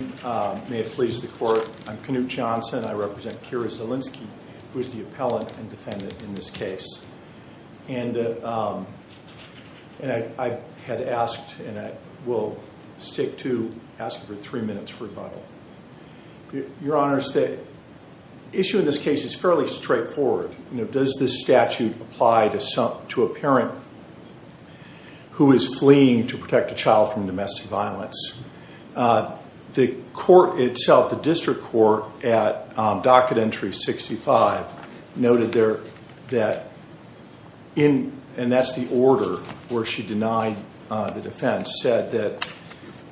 May it please the court, I'm Knute Johnson, I represent Kira Zielinski, who is the appellant and defendant in this case. And I had asked and I will stick to asking for three minutes rebuttal. Your honors, the issue in this case is fairly straightforward. You know, does this statute apply to a parent who is fleeing to protect a child from domestic violence? The court itself, the district court at docket entry 65 noted there that in, and that's the order where she denied the defense, said that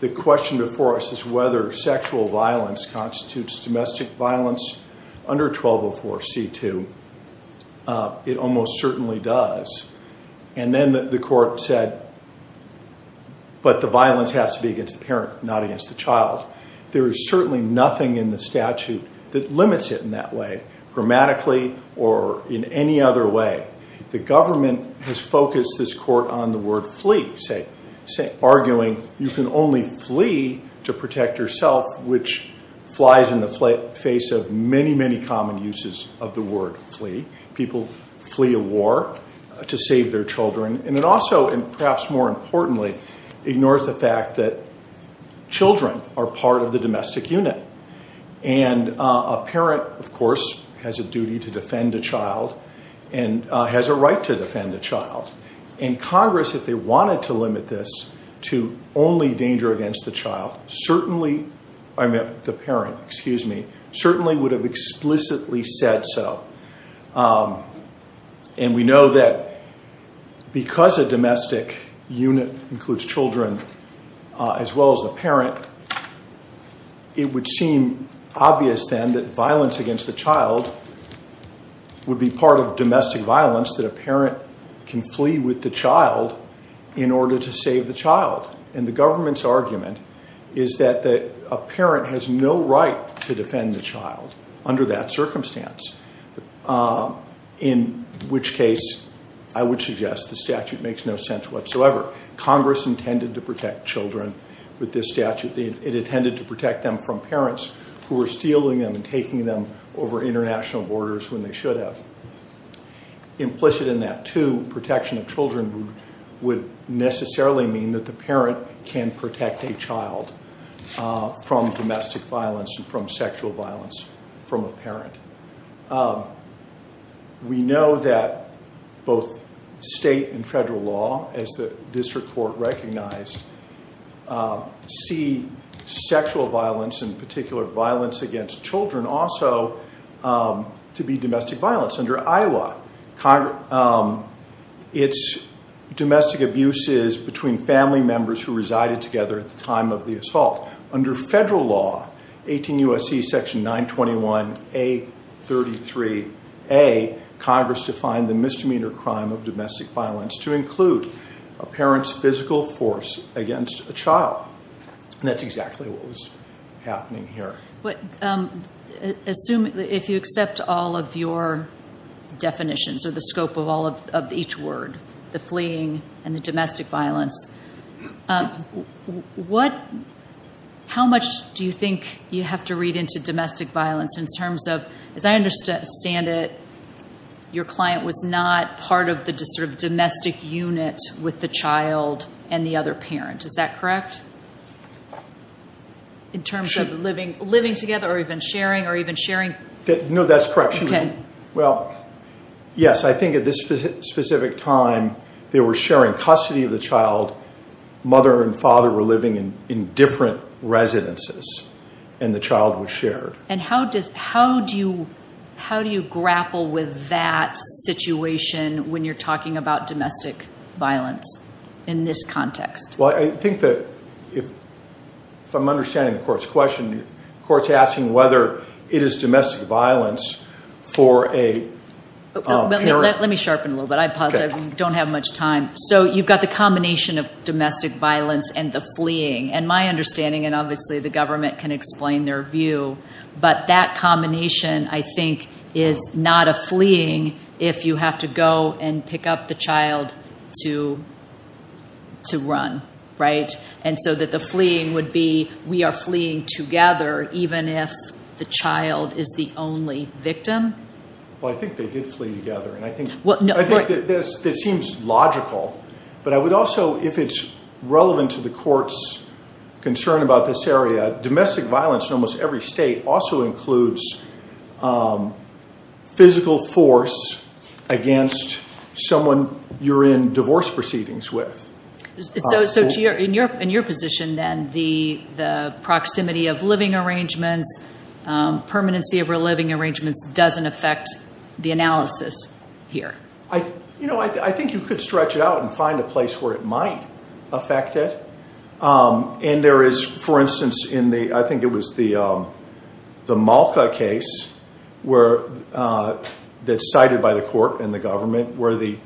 the question before us is whether sexual violence constitutes domestic violence under 1204 C2. It almost certainly does. And then the court said, but the violence has to be against the parent, not against the child. There is certainly nothing in the statute that limits it in that way, grammatically or in any other way. The government has focused this court on the word flee, say, arguing you can only flee to protect yourself, which flies in the face of many, many common uses of the word flee. People flee a war to save their children. And it also, and perhaps more importantly, ignores the fact that children are part of the domestic unit. And a parent, of course, has a duty to defend a child and has a right to defend a child. And Congress, if they wanted to limit this to only danger against the child, certainly, I meant the And we know that because a domestic unit includes children as well as the parent, it would seem obvious then that violence against the child would be part of domestic violence, that a parent can flee with the child in order to save the child. And the government's argument is that a parent has no right to defend the child under that circumstance. In which case, I would suggest the statute makes no sense whatsoever. Congress intended to protect children with this statute. It intended to protect them from parents who were stealing them and taking them over international borders when they should have. Implicit in that, too, protection of children would necessarily mean that the parent can protect a child from domestic violence and from sexual violence from a parent. We know that both state and federal law, as the district court recognized, see sexual violence and particular violence against children also to be domestic violence. Under Iowa, it's domestic abuses between family members who resided together at the time of the assault. Under federal law, 18 U.S.C. section 921A33A, Congress defined the misdemeanor crime of domestic violence to include a parent's physical force against a child. And that's exactly what was happening here. But if you accept all of your definitions or the scope of each word, the fleeing and the how much do you think you have to read into domestic violence in terms of, as I understand it, your client was not part of the sort of domestic unit with the child and the other parent. Is that correct? In terms of living together or even sharing or even sharing? No, that's correct. Well, yes, I think at this specific time, they were sharing custody of the child. Mother and father were in different residences and the child was shared. And how do you grapple with that situation when you're talking about domestic violence in this context? Well, I think that if I'm understanding the court's question, the court's asking whether it is domestic violence for a parent. Let me sharpen a little bit. I apologize. I don't have much time. So you've got the combination of domestic violence and the fleeing. And my understanding, and obviously the government can explain their view, but that combination, I think, is not a fleeing if you have to go and pick up the child to run, right? And so that the fleeing would be we are fleeing together even if the child is the only victim. Well, I think they did flee together. And I think that seems logical. But I would to the court's concern about this area. Domestic violence in almost every state also includes physical force against someone you're in divorce proceedings with. So in your position, then, the proximity of living arrangements, permanency of living arrangements doesn't affect the analysis here? You know, I think you could stretch it out and find a place where it might affect it. And there is, for instance, in the, I think it was the Malka case that's cited by the court and the government where the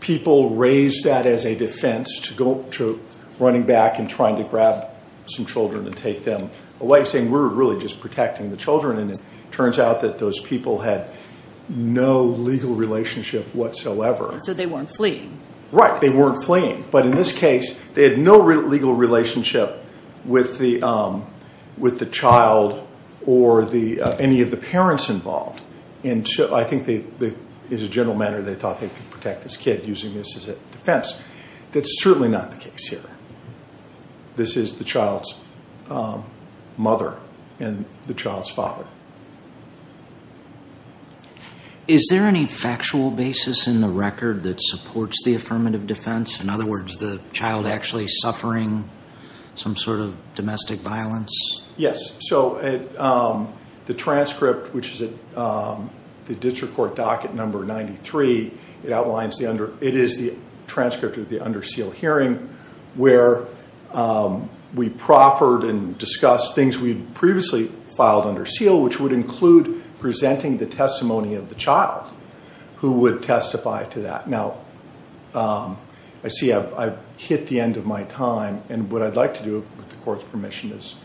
people raised that as a defense to running back and trying to grab some children and take them away, saying we're really just protecting the children. And it turns out that those people had no legal relationship whatsoever. And so they weren't fleeing? Right. They weren't fleeing. But in this case, they had no real legal relationship with the child or any of the parents involved. And I think there is a general manner they thought they could protect this kid using this as a defense. That's certainly not the case here. This is the child's mother and the child's father. Is there any factual basis in the record that supports the affirmative defense? In other words, the child actually suffering some sort of domestic violence? Yes. So the transcript, which is at the district court docket number 93, it outlines the under, it is the transcript of the under seal hearing where we proffered and discussed things we'd previously filed under seal, which would presenting the testimony of the child who would testify to that. Now, I see I've hit the end of my time. And what I'd like to do with the court's permission is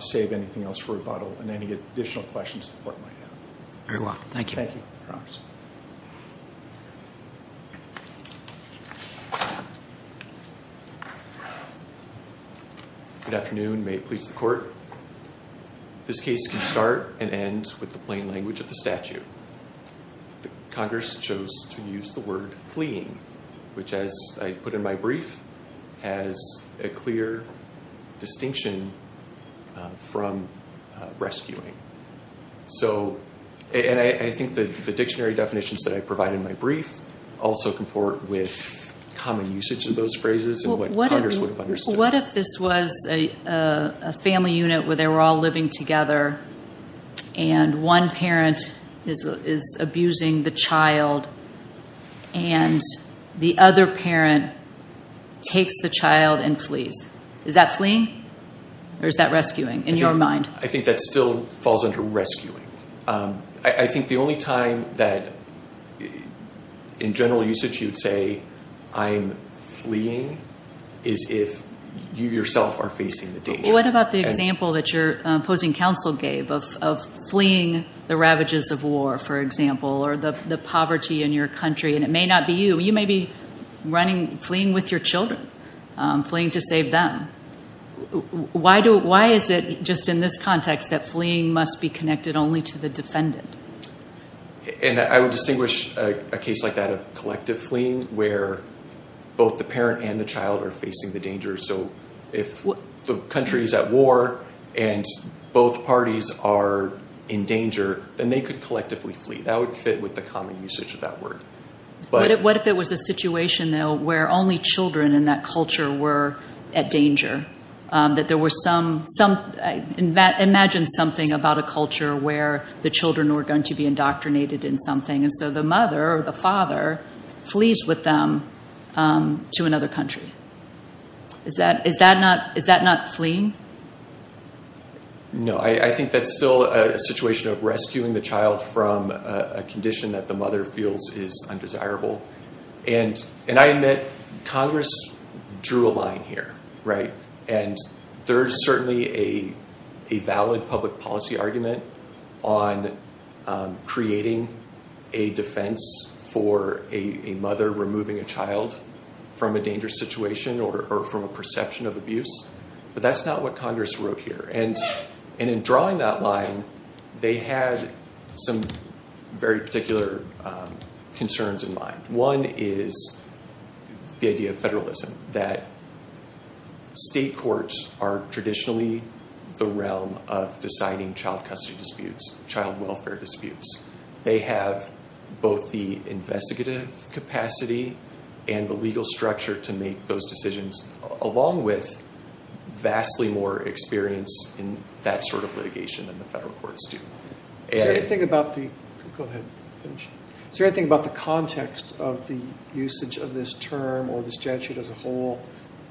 save anything else for rebuttal and any additional questions the court might have. Very well. Thank you. Good afternoon. May it please the court. This case can start and end with the plain language of the statute. Congress chose to use the word fleeing, which as I put in my brief, has a clear distinction from rescuing. So, and I think the dictionary definitions that I provide in my brief also comport with common usage of those phrases and what Congress would have understood. What if this was a family unit where they were all living together and one parent is abusing the child and the other parent takes the child and flees. Is that fleeing or is that rescuing in your mind? I think that still falls under rescuing. I think the only time that in general usage you'd say I'm fleeing is if you yourself are facing the danger. What about the example that your opposing counsel gave of fleeing the ravages of war, for example, or the poverty in your country? And it may not be you. You may be running, fleeing with your children, fleeing to save them. Why is it just in this context that fleeing must be connected only to the defendant? And I would distinguish a case like that of collective fleeing where both the parent and the child are facing the danger. So if the country is at war and both parties are in danger, then they could collectively flee. That would fit with the common usage of that word. What if it was a situation where only children in that culture were at danger? Imagine something about a culture where the children were going to be indoctrinated in something and so the mother or the father flees with them to another country. Is that not fleeing? No, I think that's still a situation of rescuing the child from a condition that the mother feels is undesirable. And I admit Congress drew a line here. And there's certainly a valid public policy argument on creating a defense for a mother removing a child from a dangerous situation or from a perception of abuse. But that's not what Congress wrote here. And in drawing that line, they had some very particular concerns in mind. One is the idea of federalism, that state courts are traditionally the realm of deciding child custody disputes, child welfare disputes. They have both the investigative capacity and the legal structure to make those decisions, along with vastly more experience in that sort of litigation than the federal courts do. Is there anything about the context of the usage of this term or this statute as a whole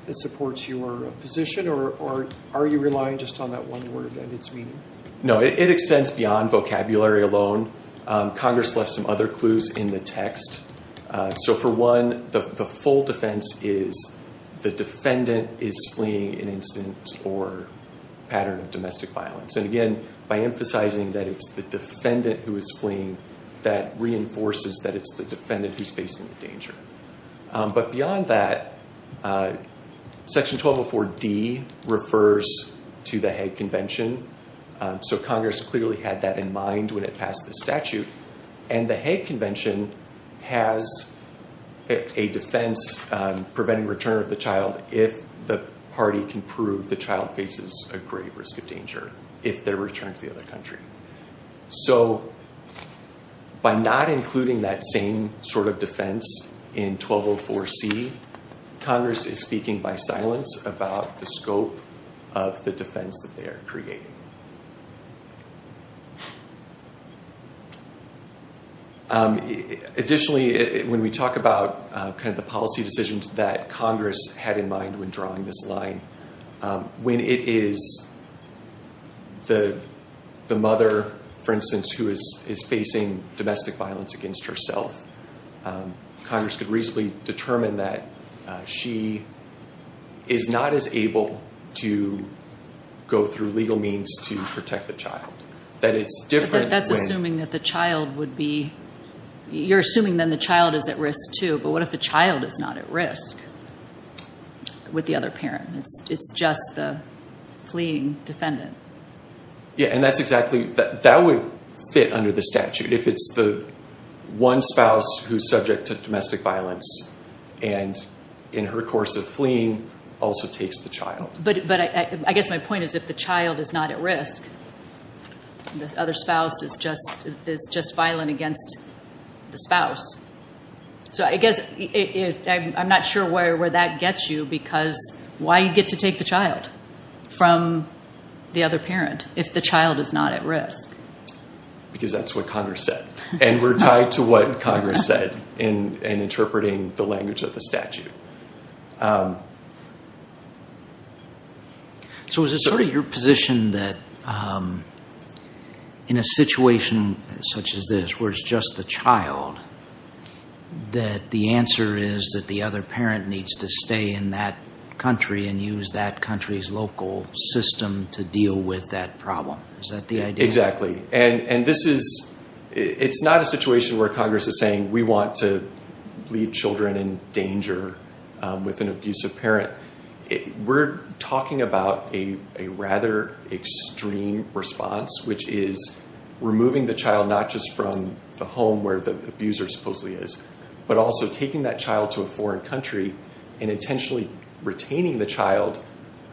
that supports your position? Or are you relying just on that one word and its meaning? No, it extends beyond vocabulary alone. Congress left some other clues in the text. So for one, the full defense is the defendant is fleeing an incident or pattern of domestic violence. And again, by emphasizing that it's the defendant who is fleeing, that reinforces that it's the defendant who's facing the danger. But beyond that, Section 1204D refers to the Hague Convention. So Congress clearly had that in mind when it passed the statute. And the Hague Convention has a defense preventing return of the child if the party can prove the child faces a grave risk of danger if they're returned to the other country. So by not including that same sort of defense in 1204C, Congress is speaking by silence about the scope of the defense that they are creating. Additionally, when we talk about the policy decisions that Congress had in mind when drawing this line, when it is the mother, for instance, who is facing domestic violence against herself, Congress could reasonably determine that she is not as able to go through legal means to protect the child. That it's different... That's assuming that the child would be... You're assuming then the child is at risk too, but what if the child is not at risk with the other parent? It's just the fleeing defendant. Yeah, and that's exactly... That would fit under the statute if it's the one spouse who's subject to domestic violence and in her course of fleeing also takes the child. But I guess my point is if the child is not at risk, and the other spouse is just violent against the spouse. So I guess I'm not sure where that gets you because why you get to take the child from the other parent if the child is not at risk? Because that's what Congress said. And we're tied to what Congress said in interpreting the language of the statute. So is it sort of your position that in a situation such as this, where it's just the child, that the answer is that the other parent needs to stay in that country and use that country's local system to deal with that problem? Is that the idea? Exactly. And this is... It's not a situation where Congress is saying, we want to leave children in danger with an abusive parent. We're talking about a rather extreme response, which is removing the child, not just from the home where the abuser supposedly is, but also taking that child to a foreign country and intentionally retaining the child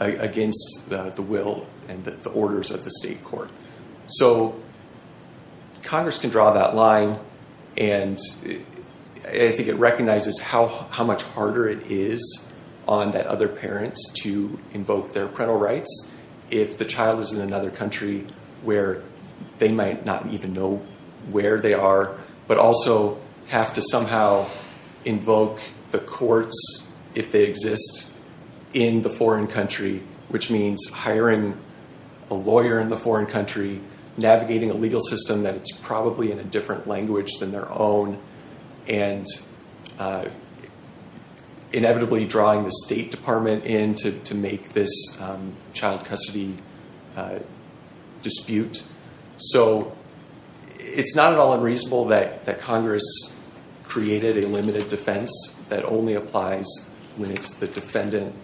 against the will and the orders of the state court. So Congress can draw that line. And I think it recognizes how much harder it is on that other parent to invoke their parental rights if the child is in another country where they might not even know where they are, but also have to somehow invoke the courts if they exist in the foreign country, which means hiring a lawyer in the foreign country, navigating a legal system that it's probably in a different language than their own, and inevitably drawing the state department in to make this child custody dispute. So it's not at all unreasonable that Congress created a limited defense that only applies when it's the defendant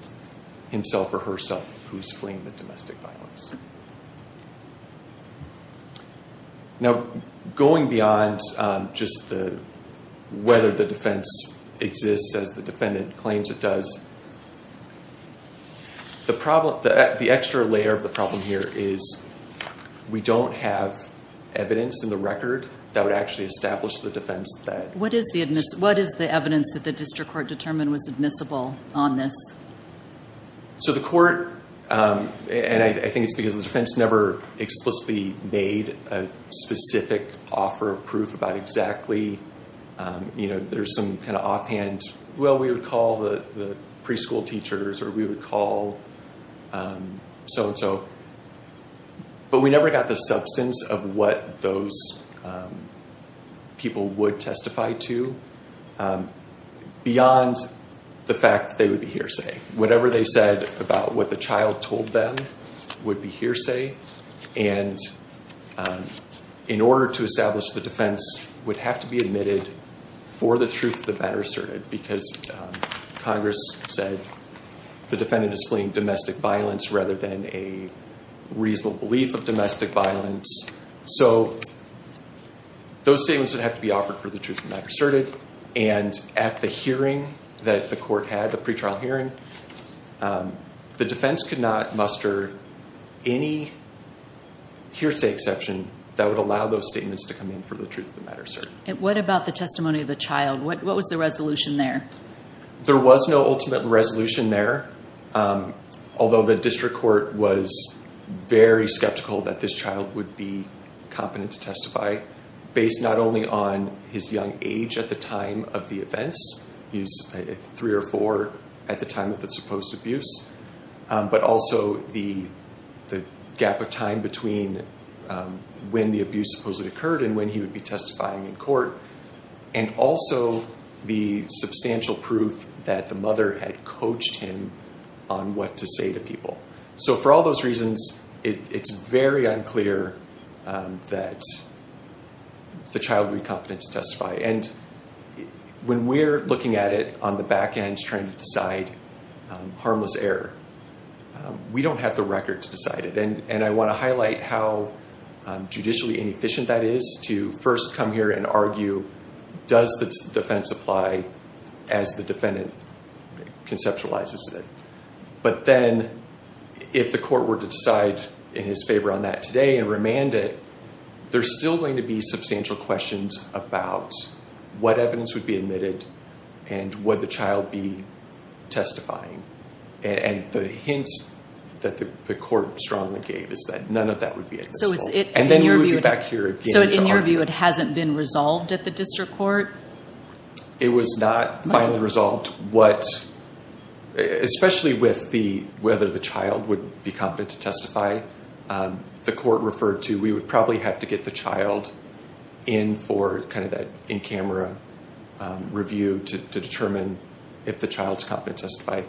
himself or herself who's fleeing the domestic violence. Now, going beyond just whether the defense exists as the defendant claims it does, the extra layer of the problem here is we don't have evidence in the record that would actually establish the defense. What is the evidence that the district court determined was admissible on this? So the court, and I think it's because the defense never explicitly made a specific offer of proof about exactly, there's some kind of offhand, well, we would call the preschool teachers or we would call so-and-so, but we never got the substance of what those people would testify to beyond the fact that they would be hearsay. Whatever they said about what the child told them would be hearsay. And in order to establish the defense would have to be admitted for the truth of the matter asserted because Congress said the defendant is fleeing domestic violence rather than a reasonable belief of domestic violence. So those statements would have to be offered for the truth of the matter asserted. And at the hearing that the court had, the pre-trial hearing, the defense could not muster any hearsay exception that would allow those statements to come in for the truth of the matter asserted. And what about the testimony of the child? What was the resolution there? There was no ultimate resolution there, although the district court was very skeptical that this child would be competent to testify based not only on his young age at the time of the events, he was three or four at the time of the supposed abuse, but also the gap of time between when the abuse supposedly occurred and when he would be testifying in court. And also the substantial proof that the mother had coached him on what to say to people. So for all those reasons, it's very unclear that the child would be competent to testify. And when we're looking at it on the back end, trying to decide harmless error, we don't have the record to decide it. And I want to highlight how judicially inefficient that is to first come here and argue, does the defense apply as the defendant conceptualizes it? But then if the court were to decide in his favor on that today and remand it, there's still going to be substantial questions about what evidence would be admitted and would the child be testifying. And the hints that the court strongly gave is that none of that would be at this point. And then we would be back here again to argue. So in your view, it hasn't been resolved at the district court? It was not finally resolved. Especially with whether the child would be competent to testify. The court referred to, we would probably have to get the child in for that in-camera review to determine if the child's competent to testify.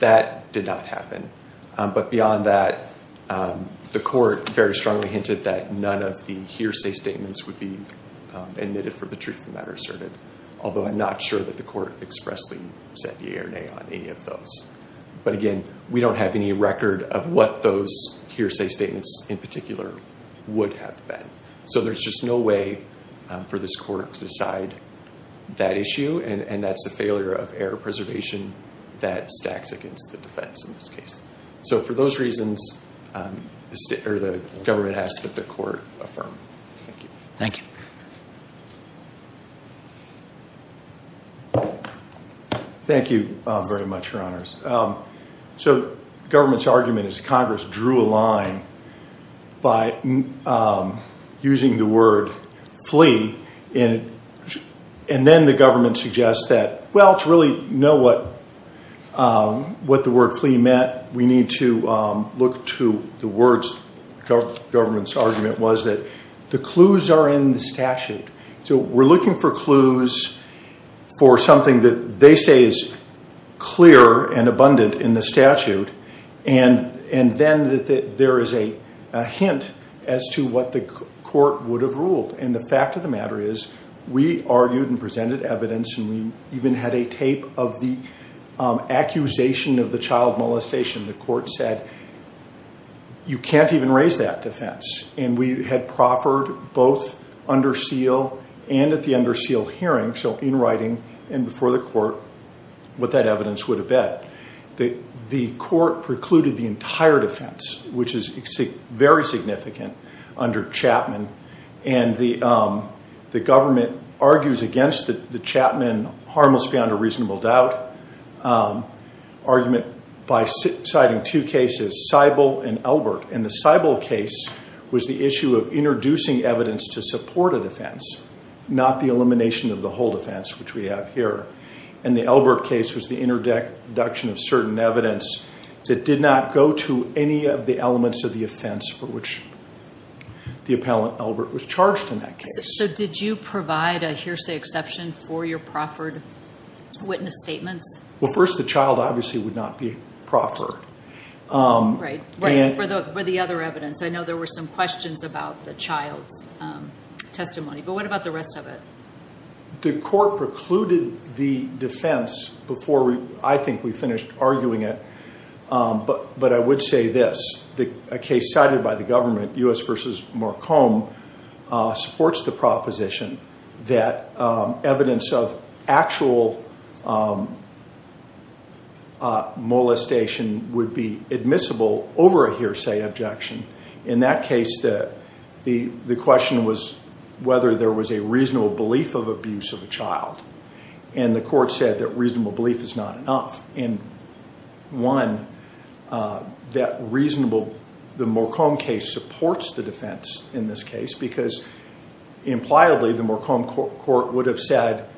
That did not happen. But beyond that, the court very strongly hinted that none of the hearsay statements would be admitted for the truth of the matter asserted. Although I'm not sure that the court expressly said yea or nay on any of those. But again, we don't have any record of what those hearsay statements in particular would have been. So there's just no way for this court to decide that issue. And that's the failure of error preservation that stacks against the defense in this case. So for those reasons, the government has to let the court affirm. Thank you. Thank you. Thank you very much, Your Honors. So the government's argument is Congress drew a line by using the word flee. And then the government suggests that, well, to really know what what the word flee meant, we need to look to the words. The government's argument was that the clues are in the statute. So we're looking for clues for something that they say is clear and abundant in the statute. And then there is a hint as to what the court would have ruled. And the fact of the matter is, we argued and presented evidence and we even had a tape of the accusation of the child molestation. The court said, you can't even raise that defense. And we had proffered both under seal and at the under seal hearing. So in writing and before the court, what that evidence would have been. The court precluded the entire defense, which is very significant under Chapman. And the government argues against the Chapman harmless beyond a reasonable doubt argument by citing two cases, Seibel and Elbert. And the Seibel case was the issue of introducing evidence to support a defense, not the elimination of the whole defense, which we have here. And the Elbert case was the introduction of certain evidence that did not go to any of the elements of the offense for which the appellant Elbert was charged in that case. So did you provide a hearsay exception for your proffered witness statements? Well, first, the child obviously would not be proffered. Right. Right. For the other evidence. I know there were some questions about the child's testimony, but what about the rest of it? The court precluded the defense before I think we finished arguing it. But I would say this, a case cited by the government, U.S. versus Marcom, supports the proposition that evidence of actual molestation would be admissible over a hearsay objection. In that case, the question was whether there was a reasonable belief of abuse of a child. And the court said that reasonable the defense in this case, because impliably the Marcom court would have said,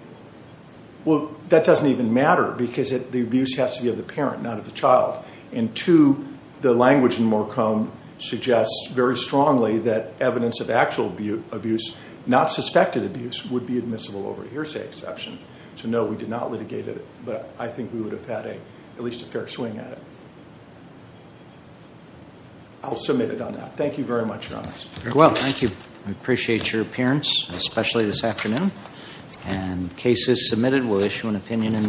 well, that doesn't even matter because the abuse has to be of the parent, not of the child. And two, the language in Marcom suggests very strongly that evidence of actual abuse, not suspected abuse, would be admissible over a hearsay exception. So no, we did not litigate it, but I think we would have had at least a fair swing at it. I'll submit it on that. Thank you very much, Your Honor. Well, thank you. I appreciate your appearance, especially this afternoon. And case is submitted. We'll issue an opinion in due course.